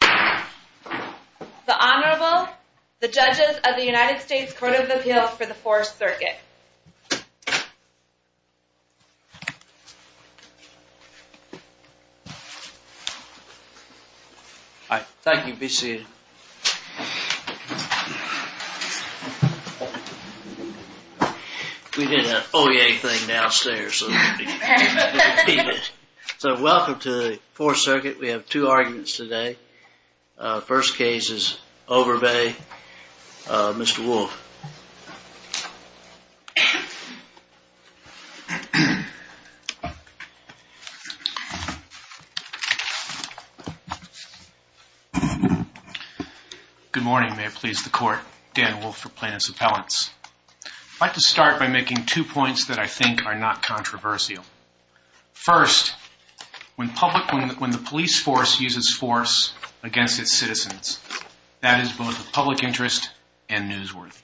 The Honorable, the Judges of the United States Court of Appeals for the 4th Circuit. We did an OEA thing downstairs. So welcome to the 4th Circuit. We have two arguments today. First case is Overbey. Mr. Wolfe. Good morning. May it please the Court, Dan Wolfe for Plaintiffs' Appellants. I'd like to start by making two points that I think are not controversial. First, when the police force uses force against its citizens, that is both a public interest and newsworthy.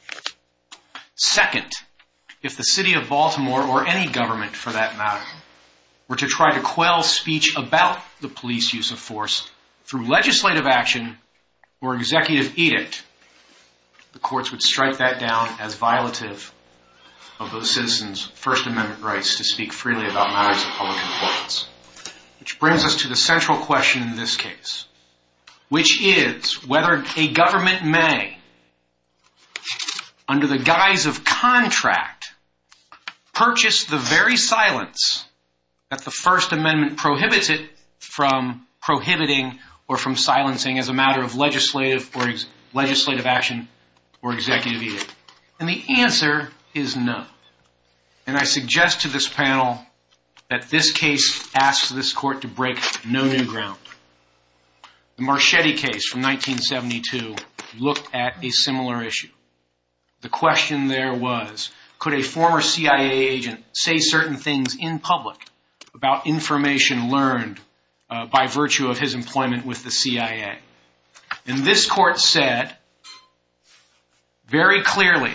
Second, if the City of Baltimore or any government, for that matter, were to try to quell speech about the police use of force through legislative action or executive edict, the courts would strike that down as violative of those citizens' First Amendment rights to speak freely about matters of public importance. Which brings us to the central question in this case, which is whether a government may, under the guise of contract, purchase the very silence that the First Amendment prohibits it from prohibiting or from silencing as a matter of legislative action or executive edict. And the answer is no. And I suggest to this panel that this case asks this Court to break no new ground. The Marchetti case from 1972 looked at a similar issue. The question there was, could a former CIA agent say certain things in public about information learned by virtue of his employment with the CIA? And this Court said very clearly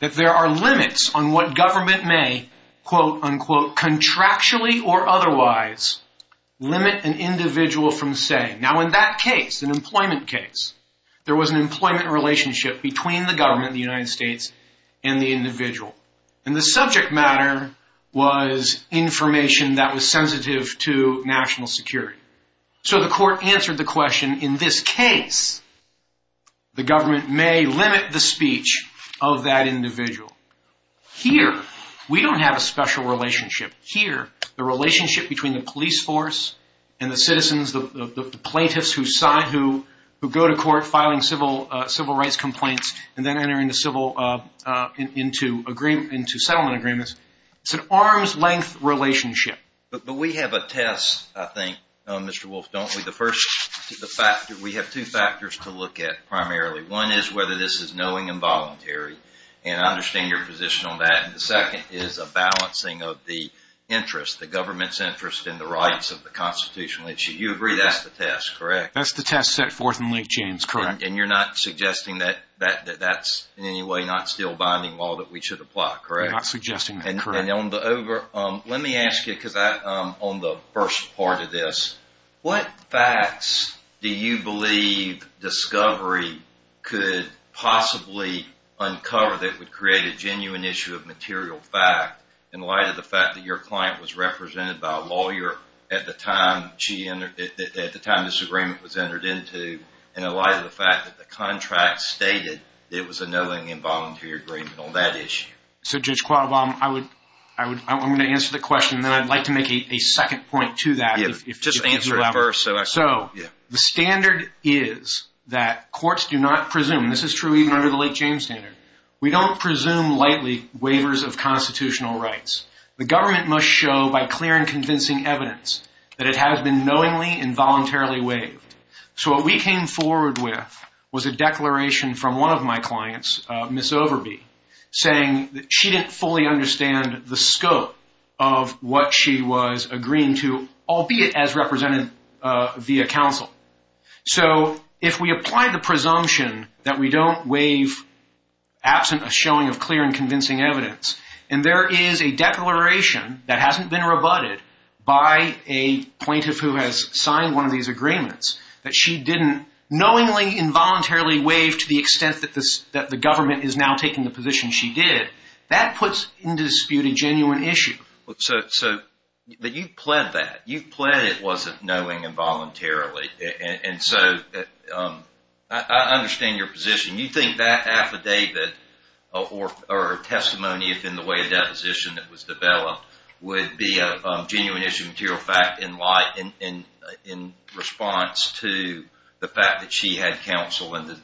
that there are limits on what government may, quote unquote, contractually or otherwise, limit an individual from saying. Now in that case, an employment case, there was an employment relationship between the government, the United States, and the individual. And the subject matter was information that was sensitive to national security. So the Court answered the question, in this case, the government may limit the speech of that individual. Here, we don't have a special relationship. Here, the relationship between the police force and the citizens, the plaintiffs who go to court filing civil rights complaints and then entering into settlement agreements, it's an arm's length relationship. But we have a test, I think, Mr. Wolfe, don't we? The first factor, we have two factors to look at primarily. One is whether this is knowing and voluntary. And I understand your position on that. And the second is a balancing of the interest, the government's interest in the rights of the constitutional issue. You agree that's the test, correct? That's the test set forth in Lee James, correct. And you're not suggesting that that's in any way not still binding law that we should apply, correct? We're not suggesting that, correct. Let me ask you, because I'm on the first part of this, what facts do you believe Discovery could possibly uncover that would create a genuine issue of material fact in light of the fact that your client was represented by a lawyer at the time this agreement was entered into, in light of the fact that the contract stated there was a knowing and voluntary agreement on that issue? So, Judge Qualbaum, I'm going to answer the question, and then I'd like to make a second point to that. Just answer it first. So, the standard is that courts do not presume, and this is true even under the Lee James standard, we don't presume lightly waivers of constitutional rights. The government must show by clear and convincing evidence that it has been knowingly and voluntarily waived. So, what we came forward with was a declaration from one of my clients, Ms. Overby, saying that she didn't fully understand the scope of what she was agreeing to, albeit as represented via counsel. So, if we apply the presumption that we don't waive, absent a showing of clear and convincing evidence, and there is a declaration that hasn't been rebutted by a plaintiff who has signed one of these agreements, that she didn't knowingly and voluntarily waive to the extent that the government is now taking the position she did, that puts in dispute a genuine issue. So, you've pled that. You've pled it wasn't knowingly and voluntarily. And so, I understand your position. You think that affidavit or testimony, if in the way of deposition it was developed, would be a genuine issue of material fact in response to the fact that she had counsel and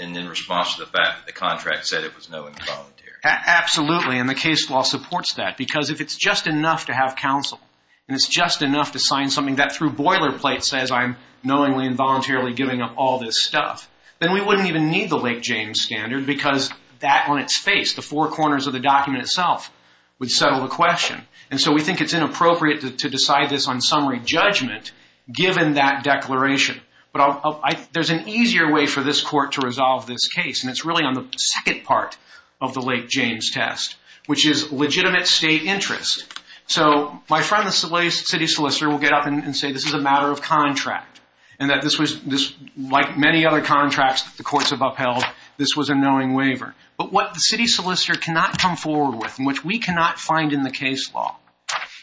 in response to the fact that the contract said it was knowingly and voluntarily. Absolutely, and the case law supports that because if it's just enough to have counsel and it's just enough to sign something that through boilerplate says I'm knowingly and voluntarily giving up all this stuff, then we wouldn't even need the Lake James Standard because that on its face, the four corners of the document itself, would settle the question. And so, we think it's inappropriate to decide this on summary judgment given that declaration. But there's an easier way for this court to resolve this case, and it's really on the second part of the Lake James test, which is legitimate state interest. So, my friend, the city solicitor, will get up and say this is a matter of contract and that this was, like many other contracts that the courts have upheld, this was a knowing waiver. But what the city solicitor cannot come forward with, and which we cannot find in the case law,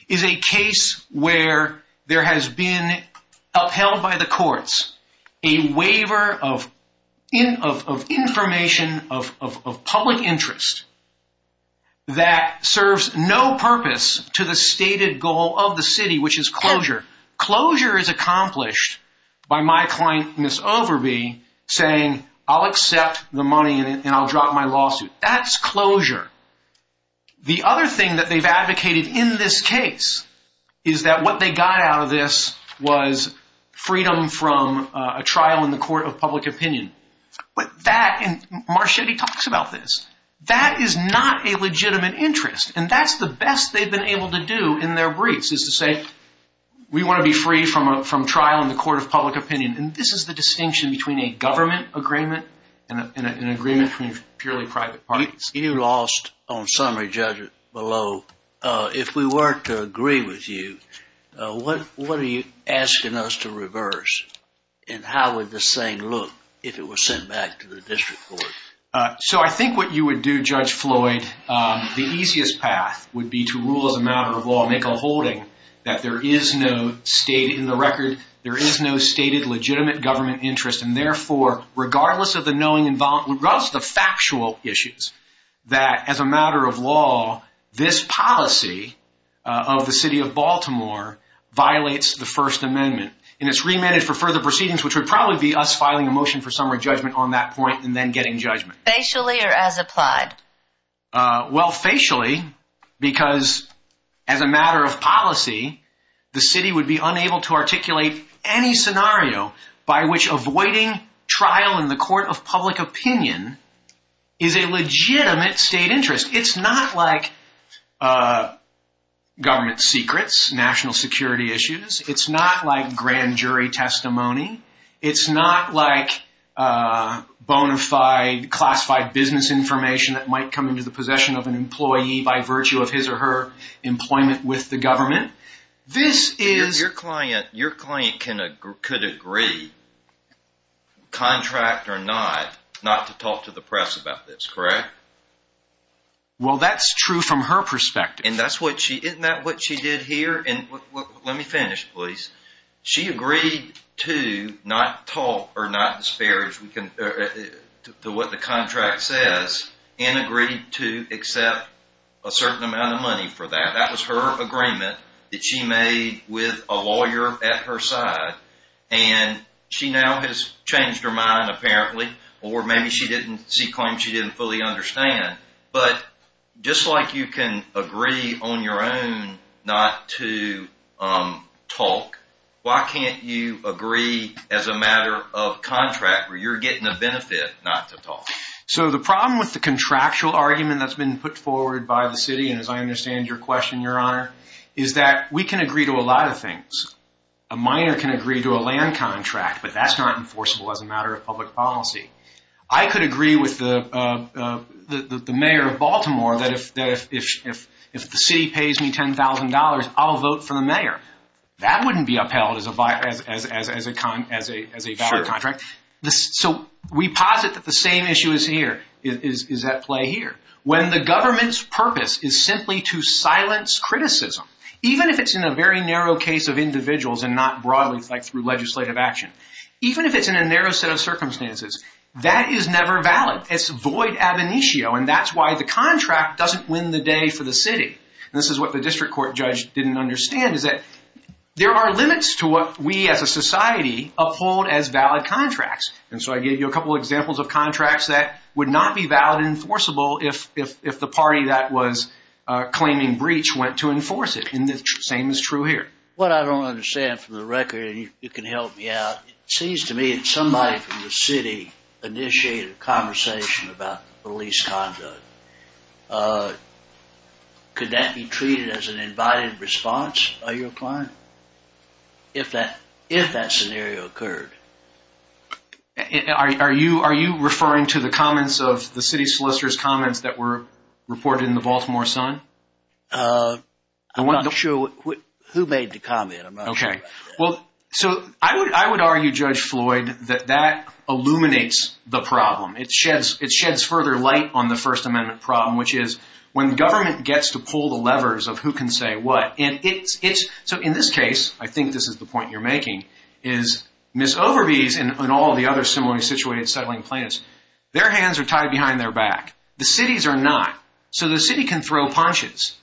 is a case where there has been upheld by the courts a waiver of information of public interest that serves no purpose to the stated goal of the city, which is closure. Closure is accomplished by my client, Ms. Overby, saying I'll accept the money and I'll drop my lawsuit. That's closure. The other thing that they've advocated in this case is that what they got out of this was freedom from a trial in the court of public opinion. But that, and Marchetti talks about this, that is not a legitimate interest. And that's the best they've been able to do in their briefs is to say we want to be free from trial in the court of public opinion. And this is the distinction between a government agreement and an agreement between purely private parties. You lost on summary, Judge Below. If we were to agree with you, what are you asking us to reverse? And how would this thing look if it were sent back to the district court? So I think what you would do, Judge Floyd, the easiest path would be to rule as a matter of law, make a holding that there is no state in the record, there is no stated legitimate government interest, and therefore, regardless of the factual issues, that as a matter of law, this policy of the city of Baltimore violates the First Amendment. And it's remanded for further proceedings, which would probably be us filing a motion for summary judgment on that point and then getting judgment. Facially or as applied? Well, facially, because as a matter of policy, the city would be unable to articulate any scenario by which avoiding trial in the court of public opinion is a legitimate state interest. It's not like government secrets, national security issues. It's not like grand jury testimony. It's not like bona fide classified business information that might come into the possession of an employee by virtue of his or her employment with the government. Your client could agree, contract or not, not to talk to the press about this, correct? Well, that's true from her perspective. Isn't that what she did here? Let me finish, please. She agreed to not talk or not disparage what the contract says and agreed to accept a certain amount of money for that. That was her agreement that she made with a lawyer at her side. And she now has changed her mind, apparently, or maybe she claims she didn't fully understand. But just like you can agree on your own not to talk, why can't you agree as a matter of contract where you're getting a benefit not to talk? So the problem with the contractual argument that's been put forward by the city, and as I understand your question, Your Honor, is that we can agree to a lot of things. A minor can agree to a land contract, but that's not enforceable as a matter of public policy. I could agree with the mayor of Baltimore that if the city pays me $10,000, I'll vote for the mayor. That wouldn't be upheld as a valid contract. So we posit that the same issue is at play here. When the government's purpose is simply to silence criticism, even if it's in a very narrow case of individuals and not broadly through legislative action, even if it's in a narrow set of circumstances, that is never valid. It's void ab initio, and that's why the contract doesn't win the day for the city. This is what the district court judge didn't understand is that there are limits to what we as a society uphold as valid contracts. And so I gave you a couple of examples of contracts that would not be valid and enforceable if the party that was claiming breach went to enforce it, and the same is true here. What I don't understand from the record, and you can help me out, it seems to me that somebody from the city initiated a conversation about police conduct. Could that be treated as an invited response by your client? If that scenario occurred. Are you referring to the comments of the city solicitor's comments that were reported in the Baltimore Sun? I'm not sure who made the comment. I would argue, Judge Floyd, that that illuminates the problem. It sheds further light on the First Amendment problem, which is when government gets to pull the levers of who can say what. So in this case, I think this is the point you're making, is Ms. Overby's and all the other similarly situated settling plaintiffs, their hands are tied behind their back. The city's are not. So the city can throw punches,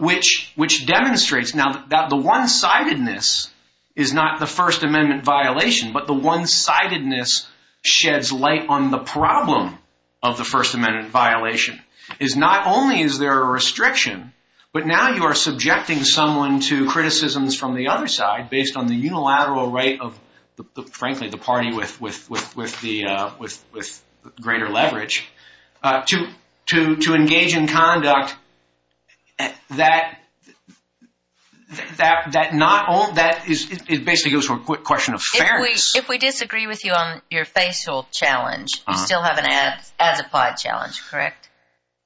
which demonstrates now that the one-sidedness is not the First Amendment violation, but the one-sidedness sheds light on the problem of the First Amendment violation. Not only is there a restriction, but now you are subjecting someone to criticisms from the other side, based on the unilateral right of, frankly, the party with greater leverage, to engage in conduct that basically goes to a question of fairness. If we disagree with you on your facial challenge, you still have an as-applied challenge, correct?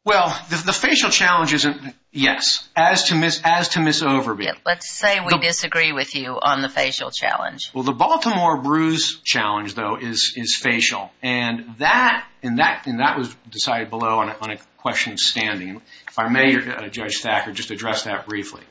Well, the facial challenge isn't, yes, as to Ms. Overby. Let's say we disagree with you on the facial challenge. Well, the Baltimore bruise challenge, though, is facial, and that was decided below on a question of standing. If I may, Judge Thacker, just address that briefly.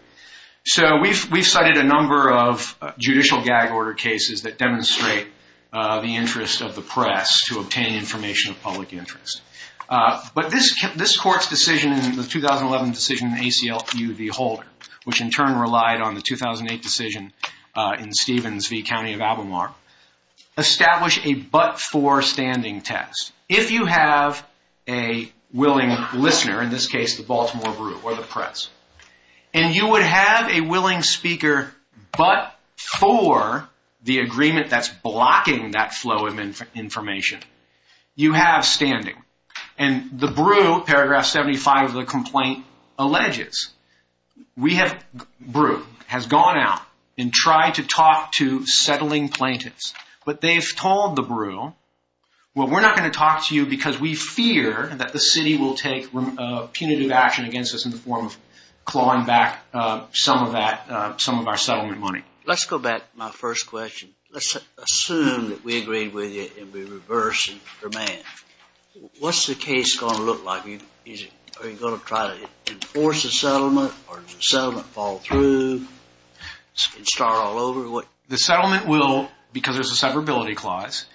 So we've cited a number of judicial gag order cases that demonstrate the interest of the press to obtain information of public interest. But this court's decision, the 2011 decision in the ACLU v. Holder, which in turn relied on the 2008 decision in Stevens v. County of Albemarle, established a but-for standing test. If you have a willing listener, in this case the Baltimore bru, or the press, and you would have a willing speaker but for the agreement that's blocking that flow of information, you have standing. And the bru, paragraph 75 of the complaint alleges, we have, bru, has gone out and tried to talk to settling plaintiffs. But they've told the bru, well, we're not going to talk to you because we fear that the city will take punitive action against us in the form of clawing back some of that, some of our settlement money. Let's go back to my first question. Let's assume that we agreed with you and we reverse the demand. What's the case going to look like? Are you going to try to enforce the settlement or does the settlement fall through and start all over? The settlement will, because there's a separability clause,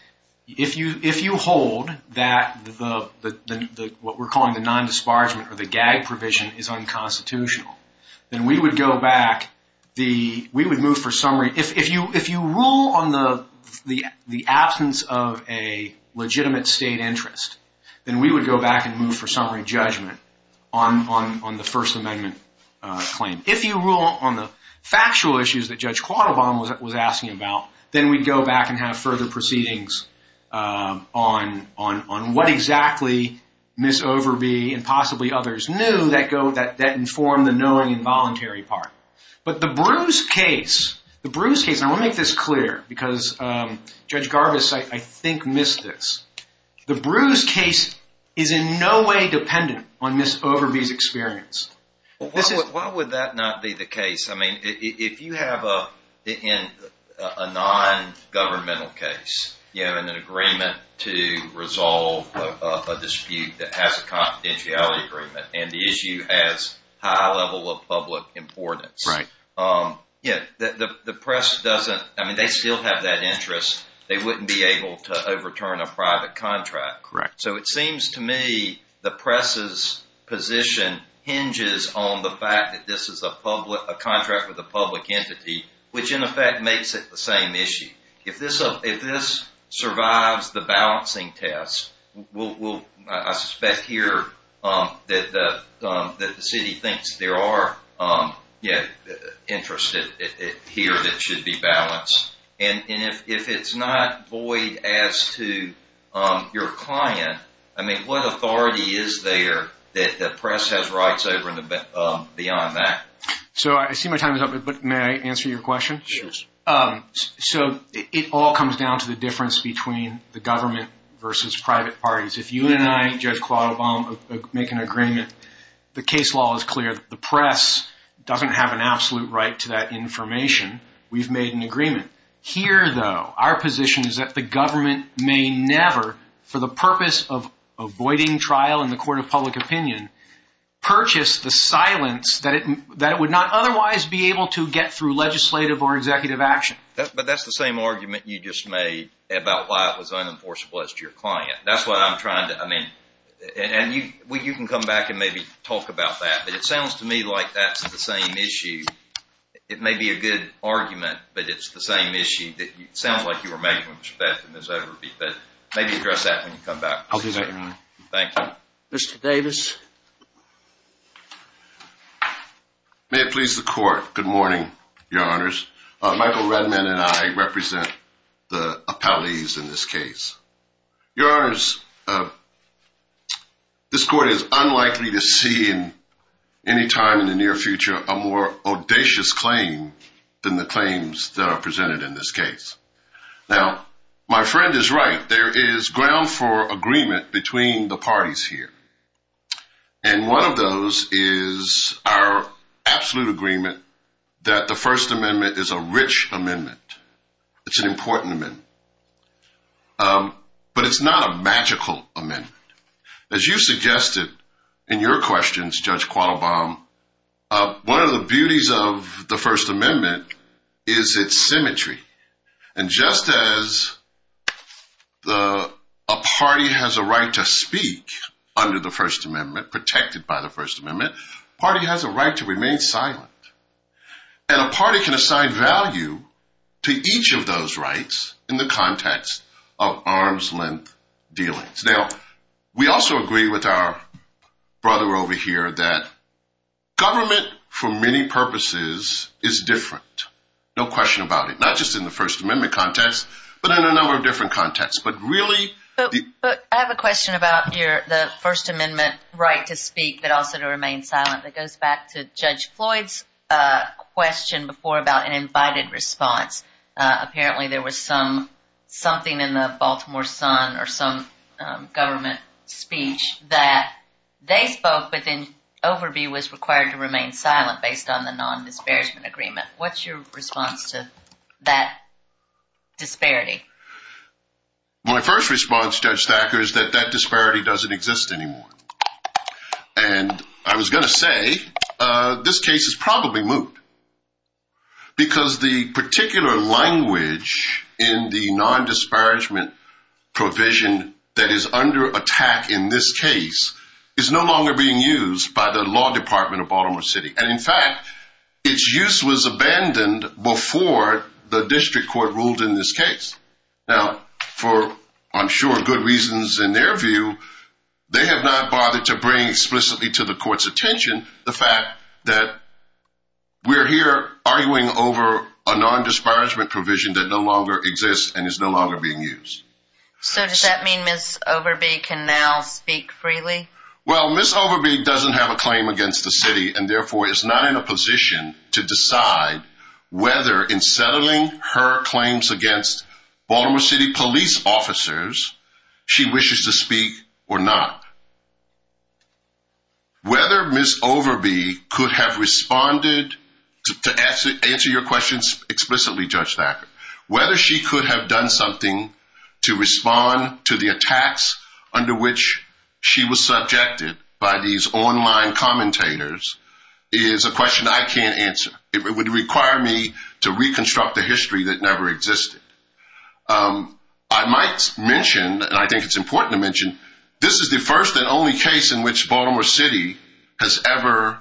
if you hold that what we're calling the non-disparagement or the gag provision is unconstitutional, then we would go back, we would move for summary. If you rule on the absence of a legitimate state interest, then we would go back and move for summary judgment on the First Amendment claim. If you rule on the factual issues that Judge Quattlebaum was asking about, then we'd go back and have further proceedings on what exactly Ms. Overby and possibly others knew that informed the knowing involuntary part. But the bru's case, the bru's case, and I want to make this clear because Judge Garvis, I think, missed this. The bru's case is in no way dependent on Ms. Overby's experience. Why would that not be the case? I mean, if you have a non-governmental case, you have an agreement to resolve a dispute that has a confidentiality agreement and the issue has high level of public importance. Right. The press doesn't, I mean, they still have that interest. They wouldn't be able to overturn a private contract. Correct. So it seems to me the press's position hinges on the fact that this is a contract with a public entity, which in effect makes it the same issue. If this survives the balancing test, I suspect here that the city thinks there are interests here that should be balanced. And if it's not void as to your client, I mean, what authority is there that the press has rights over beyond that? So I see my time is up, but may I answer your question? Sure. So it all comes down to the difference between the government versus private parties. If you and I, Judge Claude Obama, make an agreement, the case law is clear. The press doesn't have an absolute right to that information. We've made an agreement. Here, though, our position is that the government may never, for the purpose of avoiding trial in the court of public opinion, purchase the silence that it would not otherwise be able to get through legislative or executive action. But that's the same argument you just made about why it was unenforceable as to your client. That's what I'm trying to, I mean, and you can come back and maybe talk about that. But it sounds to me like that's the same issue. It may be a good argument, but it's the same issue that sounds like you were making when Ms. Bethen is over with you. But maybe address that when you come back. I'll do that, Your Honor. Thank you. Mr. Davis. May it please the Court. Good morning, Your Honors. Michael Redman and I represent the appellees in this case. Your Honors, this Court is unlikely to see in any time in the near future a more audacious claim than the claims that are presented in this case. Now, my friend is right. There is ground for agreement between the parties here. And one of those is our absolute agreement that the First Amendment is a rich amendment. It's an important amendment. But it's not a magical amendment. As you suggested in your questions, Judge Qualbom, one of the beauties of the First Amendment is its symmetry. And just as a party has a right to speak under the First Amendment, protected by the First Amendment, a party has a right to remain silent. And a party can assign value to each of those rights in the context of arm's-length dealings. Now, we also agree with our brother over here that government, for many purposes, is different. No question about it. Not just in the First Amendment context, but in a number of different contexts. But really— But I have a question about the First Amendment right to speak, but also to remain silent. That goes back to Judge Floyd's question before about an invited response. Apparently, there was something in the Baltimore Sun or some government speech that they spoke, but then Overby was required to remain silent based on the non-disparagement agreement. What's your response to that disparity? My first response, Judge Thacker, is that that disparity doesn't exist anymore. And I was going to say, this case is probably moot. Because the particular language in the non-disparagement provision that is under attack in this case is no longer being used by the law department of Baltimore City. And, in fact, its use was abandoned before the district court ruled in this case. Now, for, I'm sure, good reasons in their view, they have not bothered to bring explicitly to the court's attention the fact that we're here arguing over a non-disparagement provision that no longer exists and is no longer being used. So does that mean Ms. Overby can now speak freely? Well, Ms. Overby doesn't have a claim against the city and, therefore, is not in a position to decide whether in settling her claims against Baltimore City police officers she wishes to speak or not. Whether Ms. Overby could have responded to answer your questions explicitly, Judge Thacker, whether she could have done something to respond to the attacks under which she was subjected by these online commentators is a question I can't answer. It would require me to reconstruct a history that never existed. I might mention, and I think it's important to mention, this is the first and only case in which Baltimore City has ever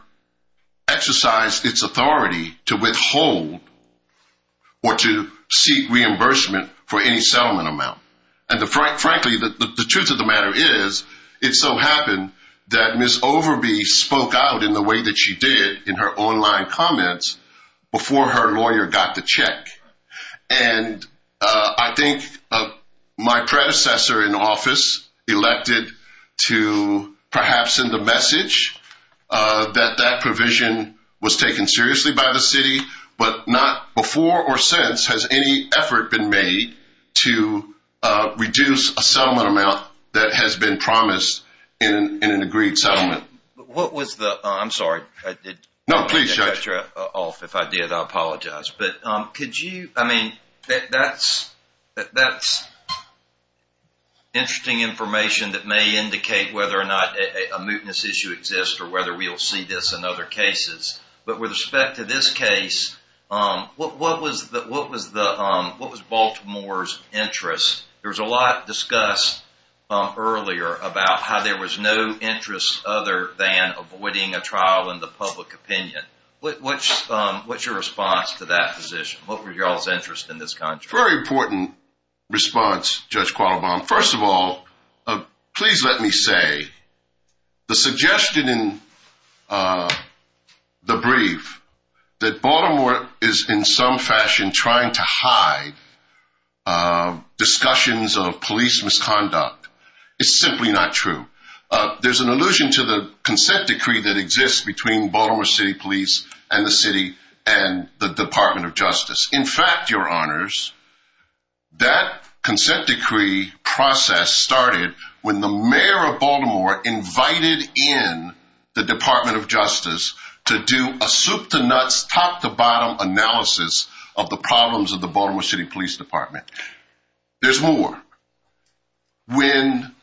exercised its authority to withhold or to seek reimbursement for any settlement amount. And, frankly, the truth of the matter is it so happened that Ms. Overby spoke out in the way that she did in her online comments before her lawyer got the check. And I think my predecessor in office elected to perhaps send a message that that provision was taken seriously by the city, but not before or since has any effort been made to reduce a settlement amount that has been promised in an agreed settlement. I'm sorry. No, please, Judge. If I did, I apologize. But could you, I mean, that's interesting information that may indicate whether or not a mootness issue exists or whether we'll see this in other cases. But with respect to this case, what was Baltimore's interest? There was a lot discussed earlier about how there was no interest other than avoiding a trial in the public opinion. What's your response to that position? What were y'all's interests in this context? Very important response, Judge Qualabong. First of all, please let me say the suggestion in the brief that Baltimore is in some fashion trying to hide discussions of police misconduct is simply not true. There's an allusion to the consent decree that exists between Baltimore City Police and the city and the Department of Justice. In fact, your honors, that consent decree process started when the mayor of Baltimore invited in the Department of Justice to do a soup-to-nuts, top-to-bottom analysis of the problems of the Baltimore City Police Department. There's more. When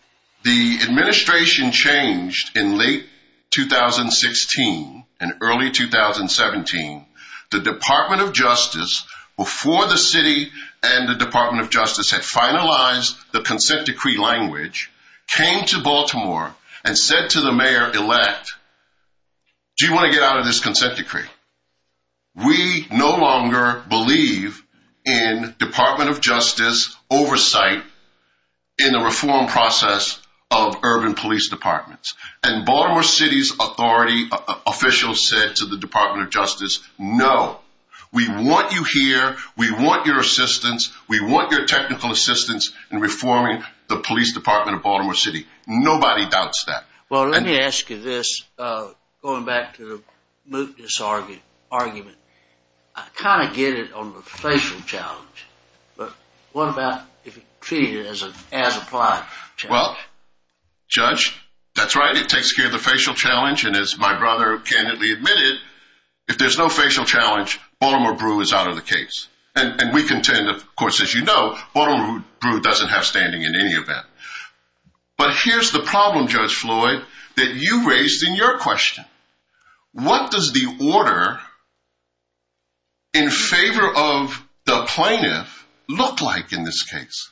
the administration changed in late 2016 and early 2017, the Department of Justice, before the city and the Department of Justice had finalized the consent decree language, came to Baltimore and said to the mayor-elect, Do you want to get out of this consent decree? We no longer believe in Department of Justice oversight in the reform process of urban police departments. And Baltimore City's authority officials said to the Department of Justice, no. We want you here. We want your assistance. We want your technical assistance in reforming the police department of Baltimore City. Nobody doubts that. Well, let me ask you this, going back to the mootness argument. I kind of get it on the facial challenge. But what about if you treat it as an as-applied challenge? Well, Judge, that's right. It takes care of the facial challenge. And as my brother candidly admitted, if there's no facial challenge, Baltimore Brew is out of the case. And we contend, of course, as you know, Baltimore Brew doesn't have standing in any of that. But here's the problem, Judge Floyd, that you raised in your question. What does the order in favor of the plaintiff look like in this case?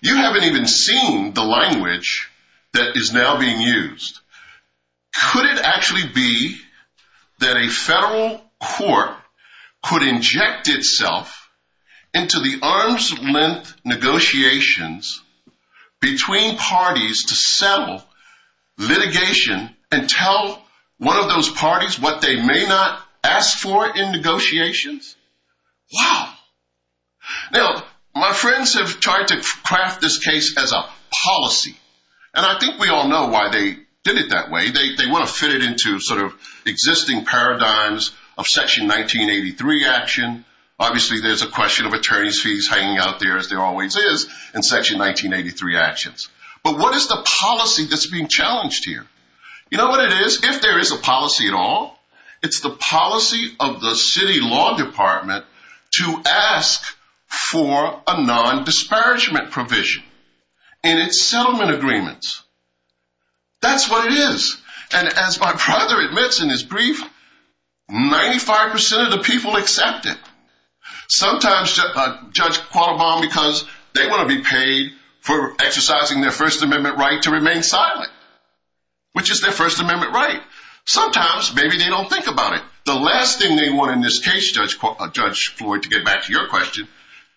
You haven't even seen the language that is now being used. Could it actually be that a federal court could inject itself into the arm's length negotiations between parties to settle litigation and tell one of those parties what they may not ask for in negotiations? Wow. Now, my friends have tried to craft this case as a policy. And I think we all know why they did it that way. They want to fit it into sort of existing paradigms of Section 1983 action. Obviously, there's a question of attorney's fees hanging out there, as there always is, in Section 1983 actions. But what is the policy that's being challenged here? You know what it is? If there is a policy at all, it's the policy of the city law department to ask for a non-disparagement provision. And it's settlement agreements. That's what it is. And as my brother admits in his brief, 95% of the people accept it. Sometimes, Judge Qualabong, because they want to be paid for exercising their First Amendment right to remain silent, which is their First Amendment right. Sometimes, maybe they don't think about it. The last thing they want in this case, Judge Floyd, to get back to your question,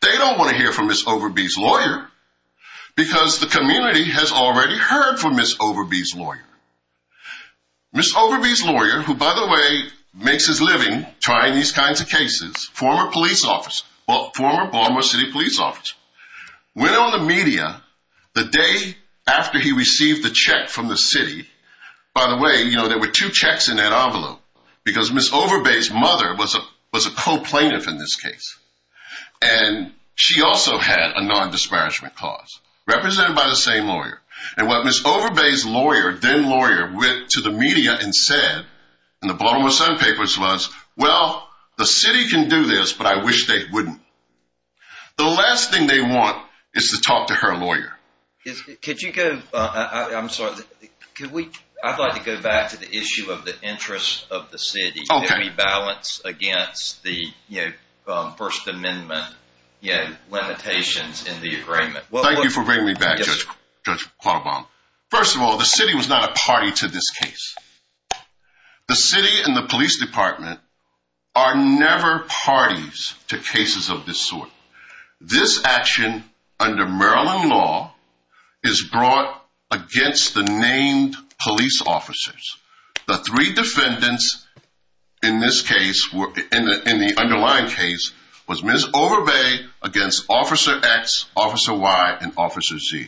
they don't want to hear from Ms. Overby's lawyer. Because the community has already heard from Ms. Overby's lawyer. Ms. Overby's lawyer, who, by the way, makes his living trying these kinds of cases, former police officer, former Baltimore City police officer, went on the media the day after he received the check from the city. By the way, there were two checks in that envelope, because Ms. Overby's mother was a co-plaintiff in this case. And she also had a non-disparagement clause, represented by the same lawyer. And what Ms. Overby's lawyer, then lawyer, went to the media and said in the Baltimore Sun papers was, well, the city can do this, but I wish they wouldn't. The last thing they want is to talk to her lawyer. Could you go, I'm sorry, I'd like to go back to the issue of the interests of the city. Can we balance against the First Amendment limitations in the agreement? Thank you for bringing me back, Judge Quattlebaum. First of all, the city was not a party to this case. The city and the police department are never parties to cases of this sort. This action, under Maryland law, is brought against the named police officers. The three defendants in this case, in the underlying case, was Ms. Overby against Officer X, Officer Y, and Officer Z.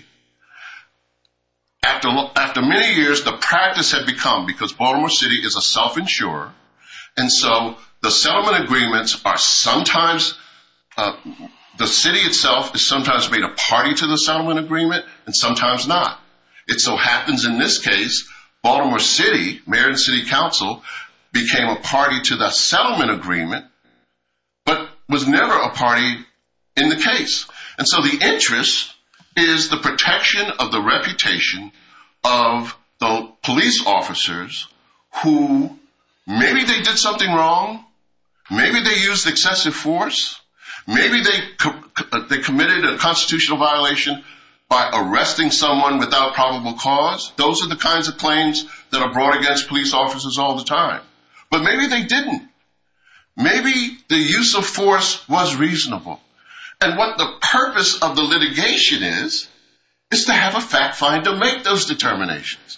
After many years, the practice had become, because Baltimore City is a self-insurer, and so the settlement agreements are sometimes, the city itself is sometimes made a party to the settlement agreement, and sometimes not. It so happens in this case, Baltimore City, Mayor and City Council, became a party to the settlement agreement, but was never a party in the case. The interest is the protection of the reputation of the police officers who, maybe they did something wrong. Maybe they used excessive force. Maybe they committed a constitutional violation by arresting someone without probable cause. Those are the kinds of claims that are brought against police officers all the time. But maybe they didn't. Maybe the use of force was reasonable. And what the purpose of the litigation is, is to have a fact find to make those determinations.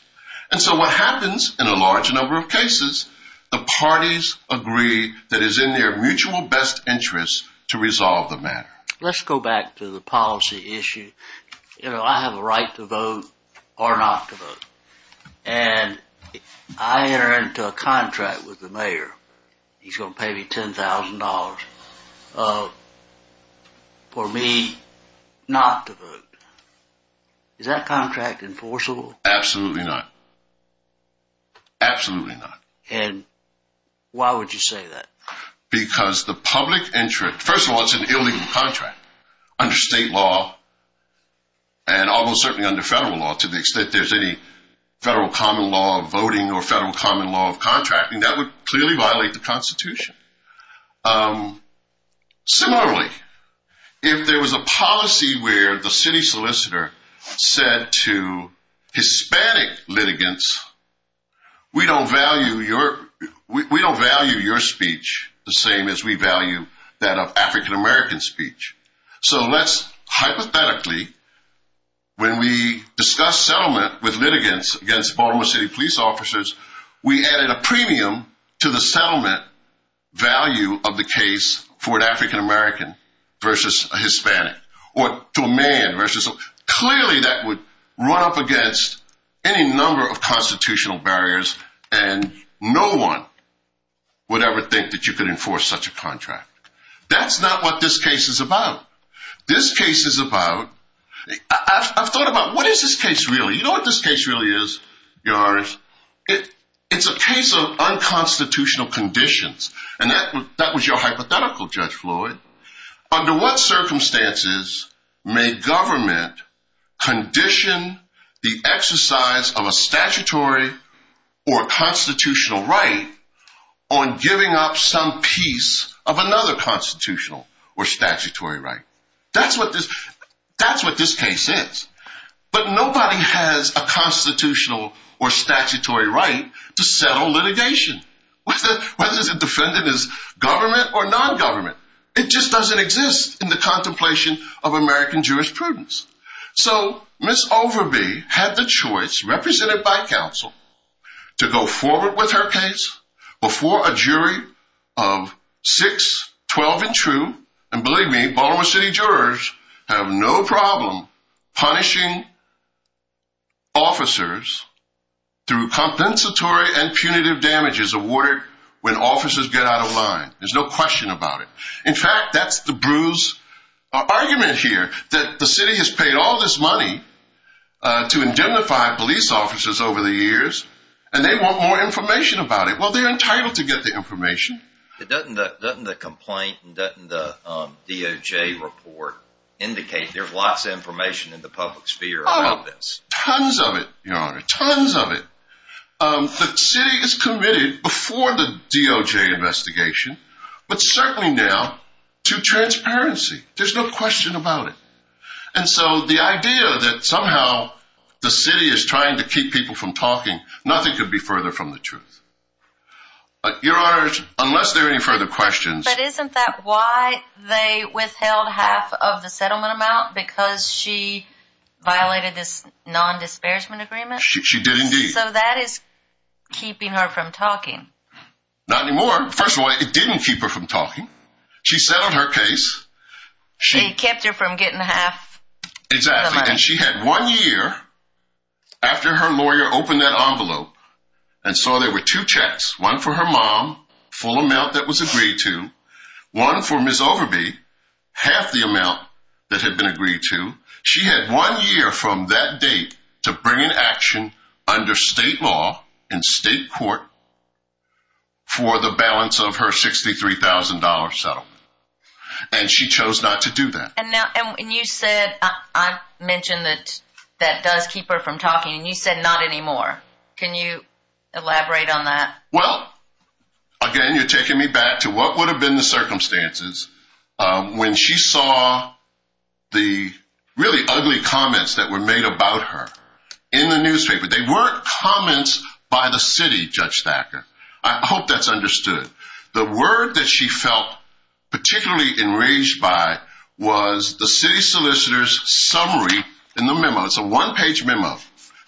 And so what happens in a large number of cases, the parties agree that it's in their mutual best interest to resolve the matter. Let's go back to the policy issue. You know, I have a right to vote or not to vote. And I entered into a contract with the mayor. He's going to pay me $10,000 for me not to vote. Is that contract enforceable? Absolutely not. Absolutely not. And why would you say that? Because the public interest, first of all, it's an illegal contract. Under state law and almost certainly under federal law, to the extent there's any federal common law of voting or federal common law of contracting, that would clearly violate the Constitution. Similarly, if there was a policy where the city solicitor said to Hispanic litigants, we don't value your speech the same as we value that of African American speech. So let's hypothetically, when we discuss settlement with litigants against Baltimore City police officers, we added a premium to the settlement value of the case for an African American versus a Hispanic or to a man. Clearly that would run up against any number of constitutional barriers and no one would ever think that you could enforce such a contract. That's not what this case is about. This case is about, I've thought about what is this case really? You know what this case really is? It's a case of unconstitutional conditions. That was your hypothetical, Judge Floyd. Under what circumstances may government condition the exercise of a statutory or constitutional right on giving up some piece of another constitutional or statutory right? That's what this case is. But nobody has a constitutional or statutory right to settle litigation. Whether the defendant is government or non-government, it just doesn't exist in the contemplation of American jurisprudence. So Ms. Overby had the choice, represented by counsel, to go forward with her case before a jury of six, 12 and true. And believe me, Baltimore City jurors have no problem punishing officers through compensatory and punitive damages awarded when officers get out of line. There's no question about it. In fact, that's the bruised argument here, that the city has paid all this money to indemnify police officers over the years, and they want more information about it. Well, they're entitled to get the information. Doesn't the complaint, doesn't the DOJ report indicate there's lots of information in the public sphere about this? Tons of it, Your Honor. Tons of it. The city is committed before the DOJ investigation, but certainly now to transparency. There's no question about it. And so the idea that somehow the city is trying to keep people from talking, nothing could be further from the truth. Your Honor, unless there are any further questions. But isn't that why they withheld half of the settlement amount, because she violated this non-disparagement agreement? She did indeed. So that is keeping her from talking. Not anymore. First of all, it didn't keep her from talking. She settled her case. It kept her from getting half. Exactly. And she had one year after her lawyer opened that envelope and saw there were two checks, one for her mom, full amount that was agreed to, one for Ms. Overby, half the amount that had been agreed to. She had one year from that date to bring an action under state law in state court for the balance of her $63,000 settlement. And she chose not to do that. And you said, I mentioned that that does keep her from talking, and you said not anymore. Can you elaborate on that? Well, again, you're taking me back to what would have been the circumstances. When she saw the really ugly comments that were made about her in the newspaper, they weren't comments by the city, Judge Thacker. I hope that's understood. The word that she felt particularly enraged by was the city solicitor's summary in the memo. It's a one-page memo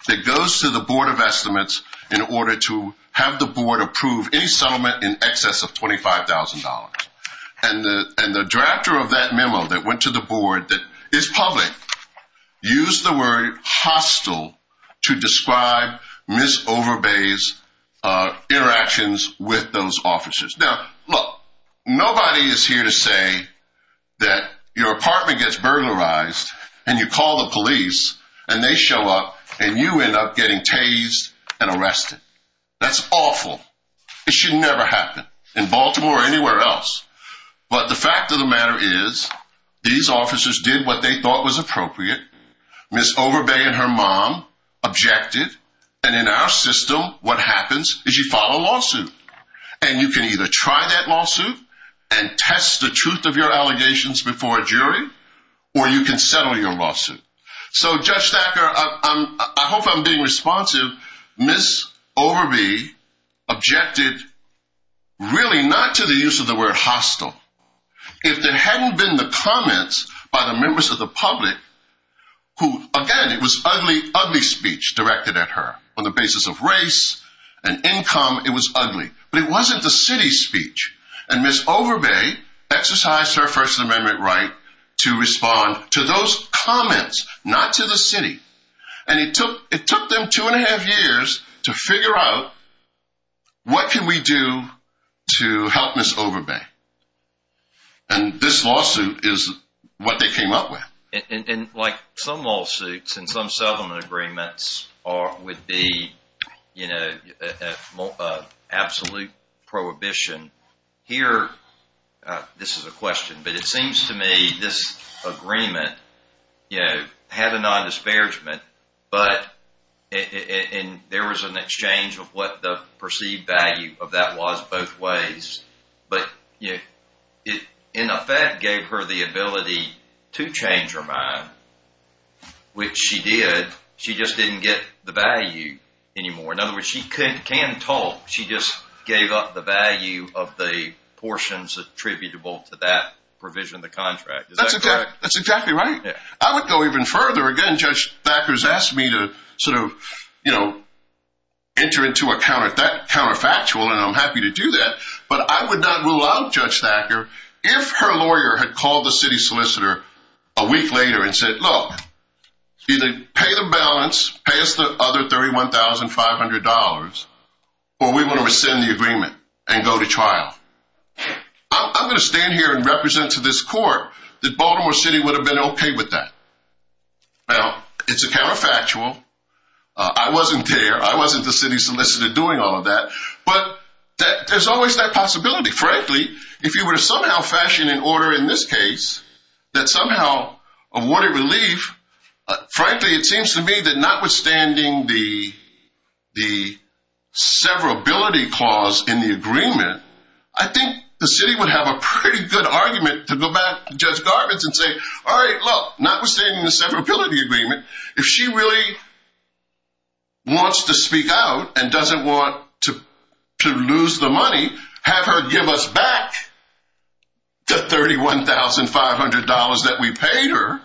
that goes to the Board of Estimates in order to have the board approve any settlement in excess of $25,000. And the director of that memo that went to the board that is public used the word hostile to describe Ms. Overby's interactions with those officers. Now, look, nobody is here to say that your apartment gets burglarized and you call the police and they show up and you end up getting tased and arrested. That's awful. It should never happen. In Baltimore or anywhere else. But the fact of the matter is these officers did what they thought was appropriate. Ms. Overby and her mom objected. And in our system, what happens is you file a lawsuit. And you can either try that lawsuit and test the truth of your allegations before a jury, or you can settle your lawsuit. So, Judge Thacker, I hope I'm being responsive. Ms. Overby objected really not to the use of the word hostile. If there hadn't been the comments by the members of the public who, again, it was ugly, ugly speech directed at her on the basis of race and income, it was ugly. And Ms. Overby exercised her First Amendment right to respond to those comments, not to the city. And it took it took them two and a half years to figure out what can we do to help Ms. Overby. And this lawsuit is what they came up with. And like some lawsuits and some settlement agreements would be, you know, absolute prohibition. Here, this is a question, but it seems to me this agreement, you know, had a non-disparagement. But there was an exchange of what the perceived value of that was both ways. But, you know, it in effect gave her the ability to change her mind, which she did. She just didn't get the value anymore. In other words, she can talk. She just gave up the value of the portions attributable to that provision of the contract. That's exactly right. I would go even further. Again, Judge Thacker's asked me to sort of, you know, enter into a counterfactual, and I'm happy to do that. But I would not rule out Judge Thacker if her lawyer had called the city solicitor a week later and said, look, either pay the balance, pay us the other $31,500, or we want to rescind the agreement and go to trial. I'm going to stand here and represent to this court that Baltimore City would have been okay with that. Well, it's a counterfactual. I wasn't there. I wasn't the city solicitor doing all of that. But there's always that possibility. Frankly, if you were to somehow fashion an order in this case that somehow awarded relief, frankly, it seems to me that notwithstanding the severability clause in the agreement, I think the city would have a pretty good argument to go back to Judge Garvin and say, all right, look, notwithstanding the severability agreement, if she really wants to speak out and doesn't want to lose the money, have her give us back the $31,500 that we paid her,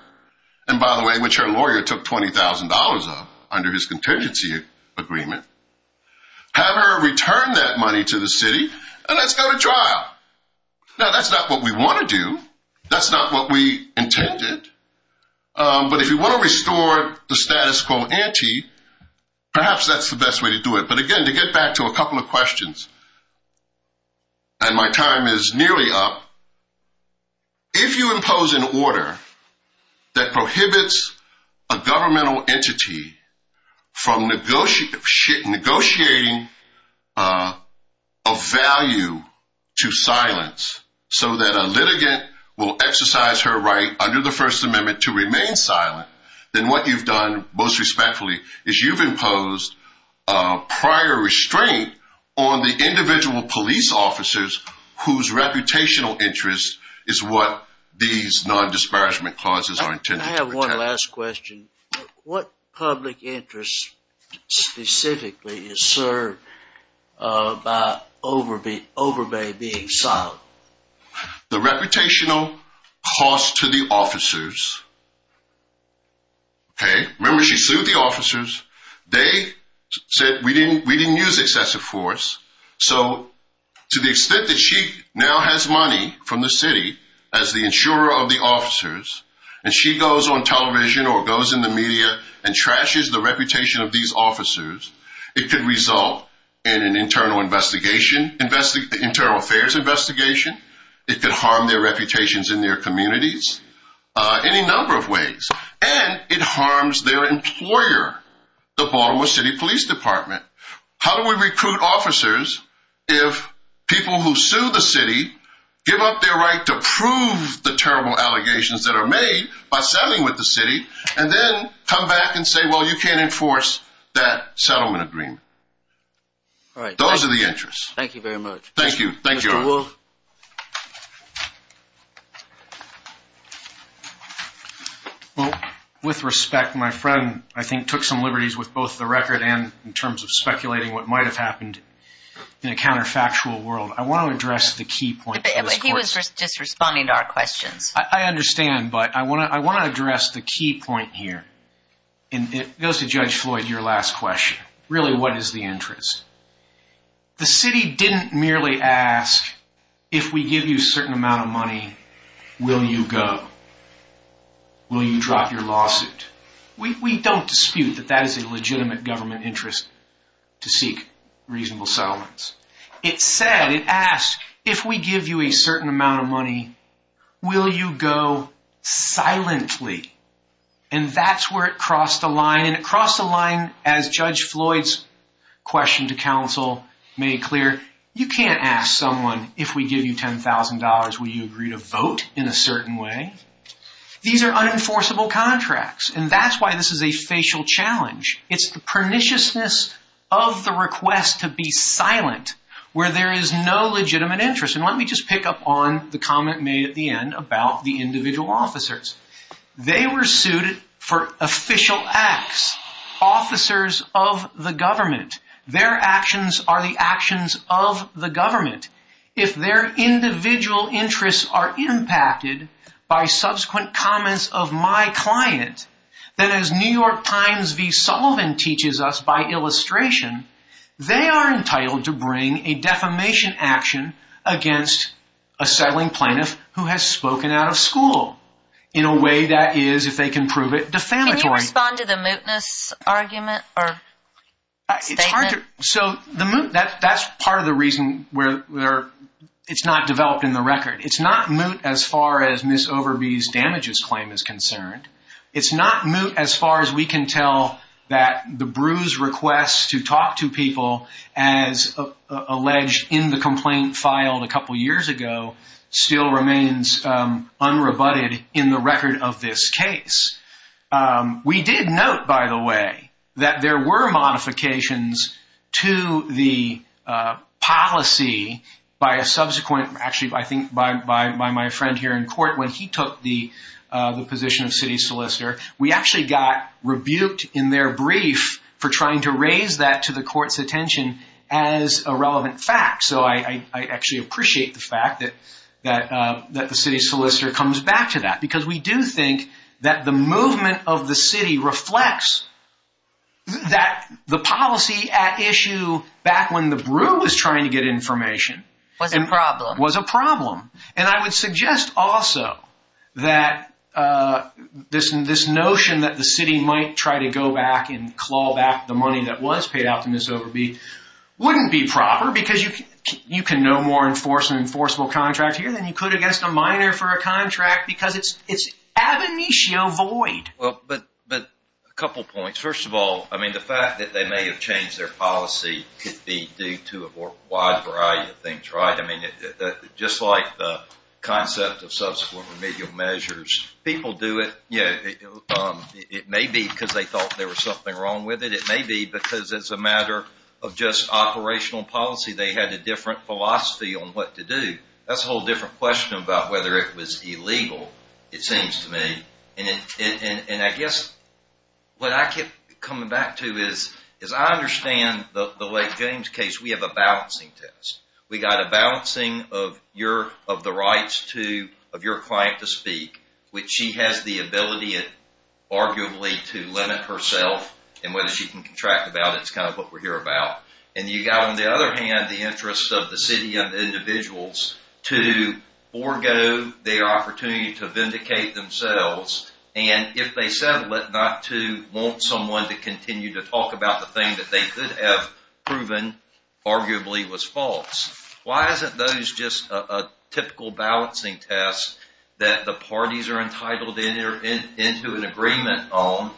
and by the way, which her lawyer took $20,000 of under his contingency agreement, have her return that money to the city, and let's go to trial. Now, that's not what we want to do. That's not what we intended. But if you want to restore the status quo ante, perhaps that's the best way to do it. But again, to get back to a couple of questions, and my time is nearly up, if you impose an order that prohibits a governmental entity from negotiating a value to silence so that a litigant will exercise her right under the First Amendment to remain silent, then what you've done, most respectfully, is you've imposed prior restraint on the individual police officers whose reputational interest is what these non-disparagement clauses are intended to protect. I have one last question. What public interest specifically is served by Overbay being silent? The reputational cost to the officers, okay, remember she sued the officers. They said we didn't use excessive force, so to the extent that she now has money from the city as the insurer of the officers, and she goes on television or goes in the media and trashes the reputation of these officers, it could result in an internal affairs investigation. It could harm their reputations in their communities any number of ways, and it harms their employer, the Baltimore City Police Department. How do we recruit officers if people who sue the city give up their right to prove the terrible allegations that are made by selling with the city and then come back and say, well, you can't enforce that settlement agreement? All right. Those are the interests. Thank you very much. Thank you. Thank you all. Well, with respect, my friend, I think, took some liberties with both the record and in terms of speculating what might have happened in a counterfactual world. I want to address the key point. He was just responding to our questions. I understand, but I want to address the key point here, and it goes to Judge Floyd, your last question. Really, what is the interest? The city didn't merely ask, if we give you a certain amount of money, will you go? Will you drop your lawsuit? We don't dispute that that is a legitimate government interest to seek reasonable settlements. It said, it asked, if we give you a certain amount of money, will you go silently? And that's where it crossed the line, and it crossed the line as Judge Floyd's question to counsel made clear. You can't ask someone, if we give you $10,000, will you agree to vote in a certain way? These are unenforceable contracts, and that's why this is a facial challenge. It's the perniciousness of the request to be silent where there is no legitimate interest. And let me just pick up on the comment made at the end about the individual officers. They were sued for official acts, officers of the government. Their actions are the actions of the government. If their individual interests are impacted by subsequent comments of my client, then as New York Times' V. Sullivan teaches us by illustration, they are entitled to bring a defamation action against a settling plaintiff who has spoken out of school in a way that is, if they can prove it, defamatory. Can you respond to the mootness argument or statement? So the moot, that's part of the reason where it's not developed in the record. It's not moot as far as Ms. Overby's damages claim is concerned. It's not moot as far as we can tell that the bruised request to talk to people as alleged in the complaint filed a couple years ago still remains unrebutted in the record of this case. We did note, by the way, that there were modifications to the policy by a subsequent, actually I think by my friend here in court when he took the position of city solicitor. We actually got rebuked in their brief for trying to raise that to the court's attention as a relevant fact. So I actually appreciate the fact that the city solicitor comes back to that because we do think that the movement of the city reflects the policy at issue back when the bru was trying to get information. Was a problem. Was a problem. And I would suggest also that this notion that the city might try to go back and claw back the money that was paid out to Ms. Overby wouldn't be proper because you can no more enforce an enforceable contract here than you could against a minor for a contract because it's ab initio void. But a couple points. First of all, I mean the fact that they may have changed their policy could be due to a wide variety of things, right? I mean just like the concept of subsequent remedial measures. People do it, you know, it may be because they thought there was something wrong with it. It may be because it's a matter of just operational policy. They had a different philosophy on what to do. That's a whole different question about whether it was illegal, it seems to me. And I guess what I keep coming back to is I understand the Lake James case. We have a balancing test. We got a balancing of the rights of your client to speak which she has the ability arguably to limit herself and whether she can contract about it. It's kind of what we're here about. And you got on the other hand the interest of the city and individuals to forego their opportunity to vindicate themselves and if they settle it not to want someone to continue to talk about the thing that they could have proven arguably was false. Why isn't those just a typical balancing test that the parties are entitled into an agreement on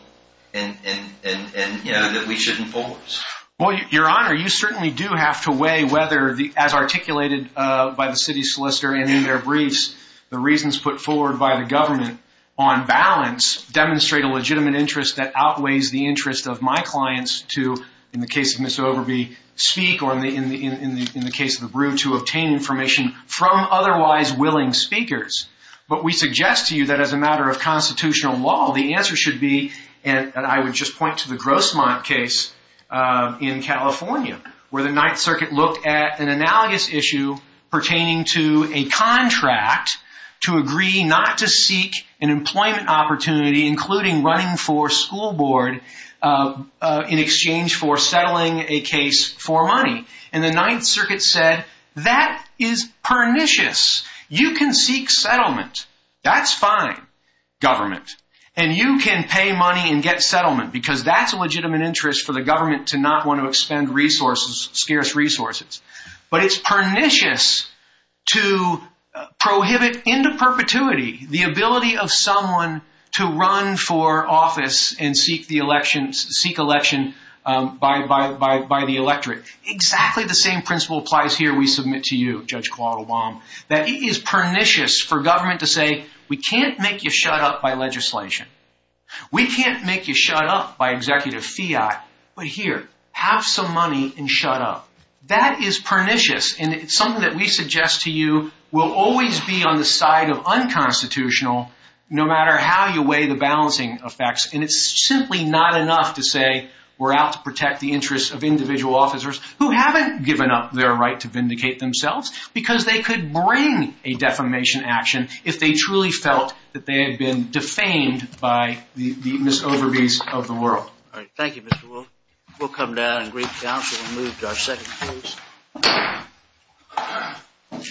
and, you know, that we shouldn't force? Well, Your Honor, you certainly do have to weigh whether, as articulated by the city solicitor and in their briefs, the reasons put forward by the government on balance demonstrate a legitimate interest that outweighs the interest of my clients to, in the case of Ms. Overby, speak or in the case of the Brewer to obtain information from otherwise willing speakers. But we suggest to you that as a matter of constitutional law, the answer should be, and I would just point to the Grossmont case in California where the Ninth Circuit looked at an analogous issue pertaining to a contract to agree not to seek an employment opportunity including running for school board in exchange for settling a case for money. And the Ninth Circuit said that is pernicious. You can seek settlement. That's fine. Government. And you can pay money and get settlement because that's a legitimate interest for the government to not want to expend scarce resources. But it's pernicious to prohibit into perpetuity the ability of someone to run for office and seek election by the electorate. Exactly the same principle applies here, we submit to you, Judge Claude Obama, that it is pernicious for government to say, we can't make you shut up by legislation. We can't make you shut up by executive fiat. But here, have some money and shut up. That is pernicious. And it's something that we suggest to you will always be on the side of unconstitutional no matter how you weigh the balancing effects. And it's simply not enough to say, we're out to protect the interests of individual officers who haven't given up their right to vindicate themselves because they could bring a defamation action if they truly felt that they had been defamed by the misoveries of the world. Thank you, Mr. Wolf. We'll come down and greet counsel and move to our second case.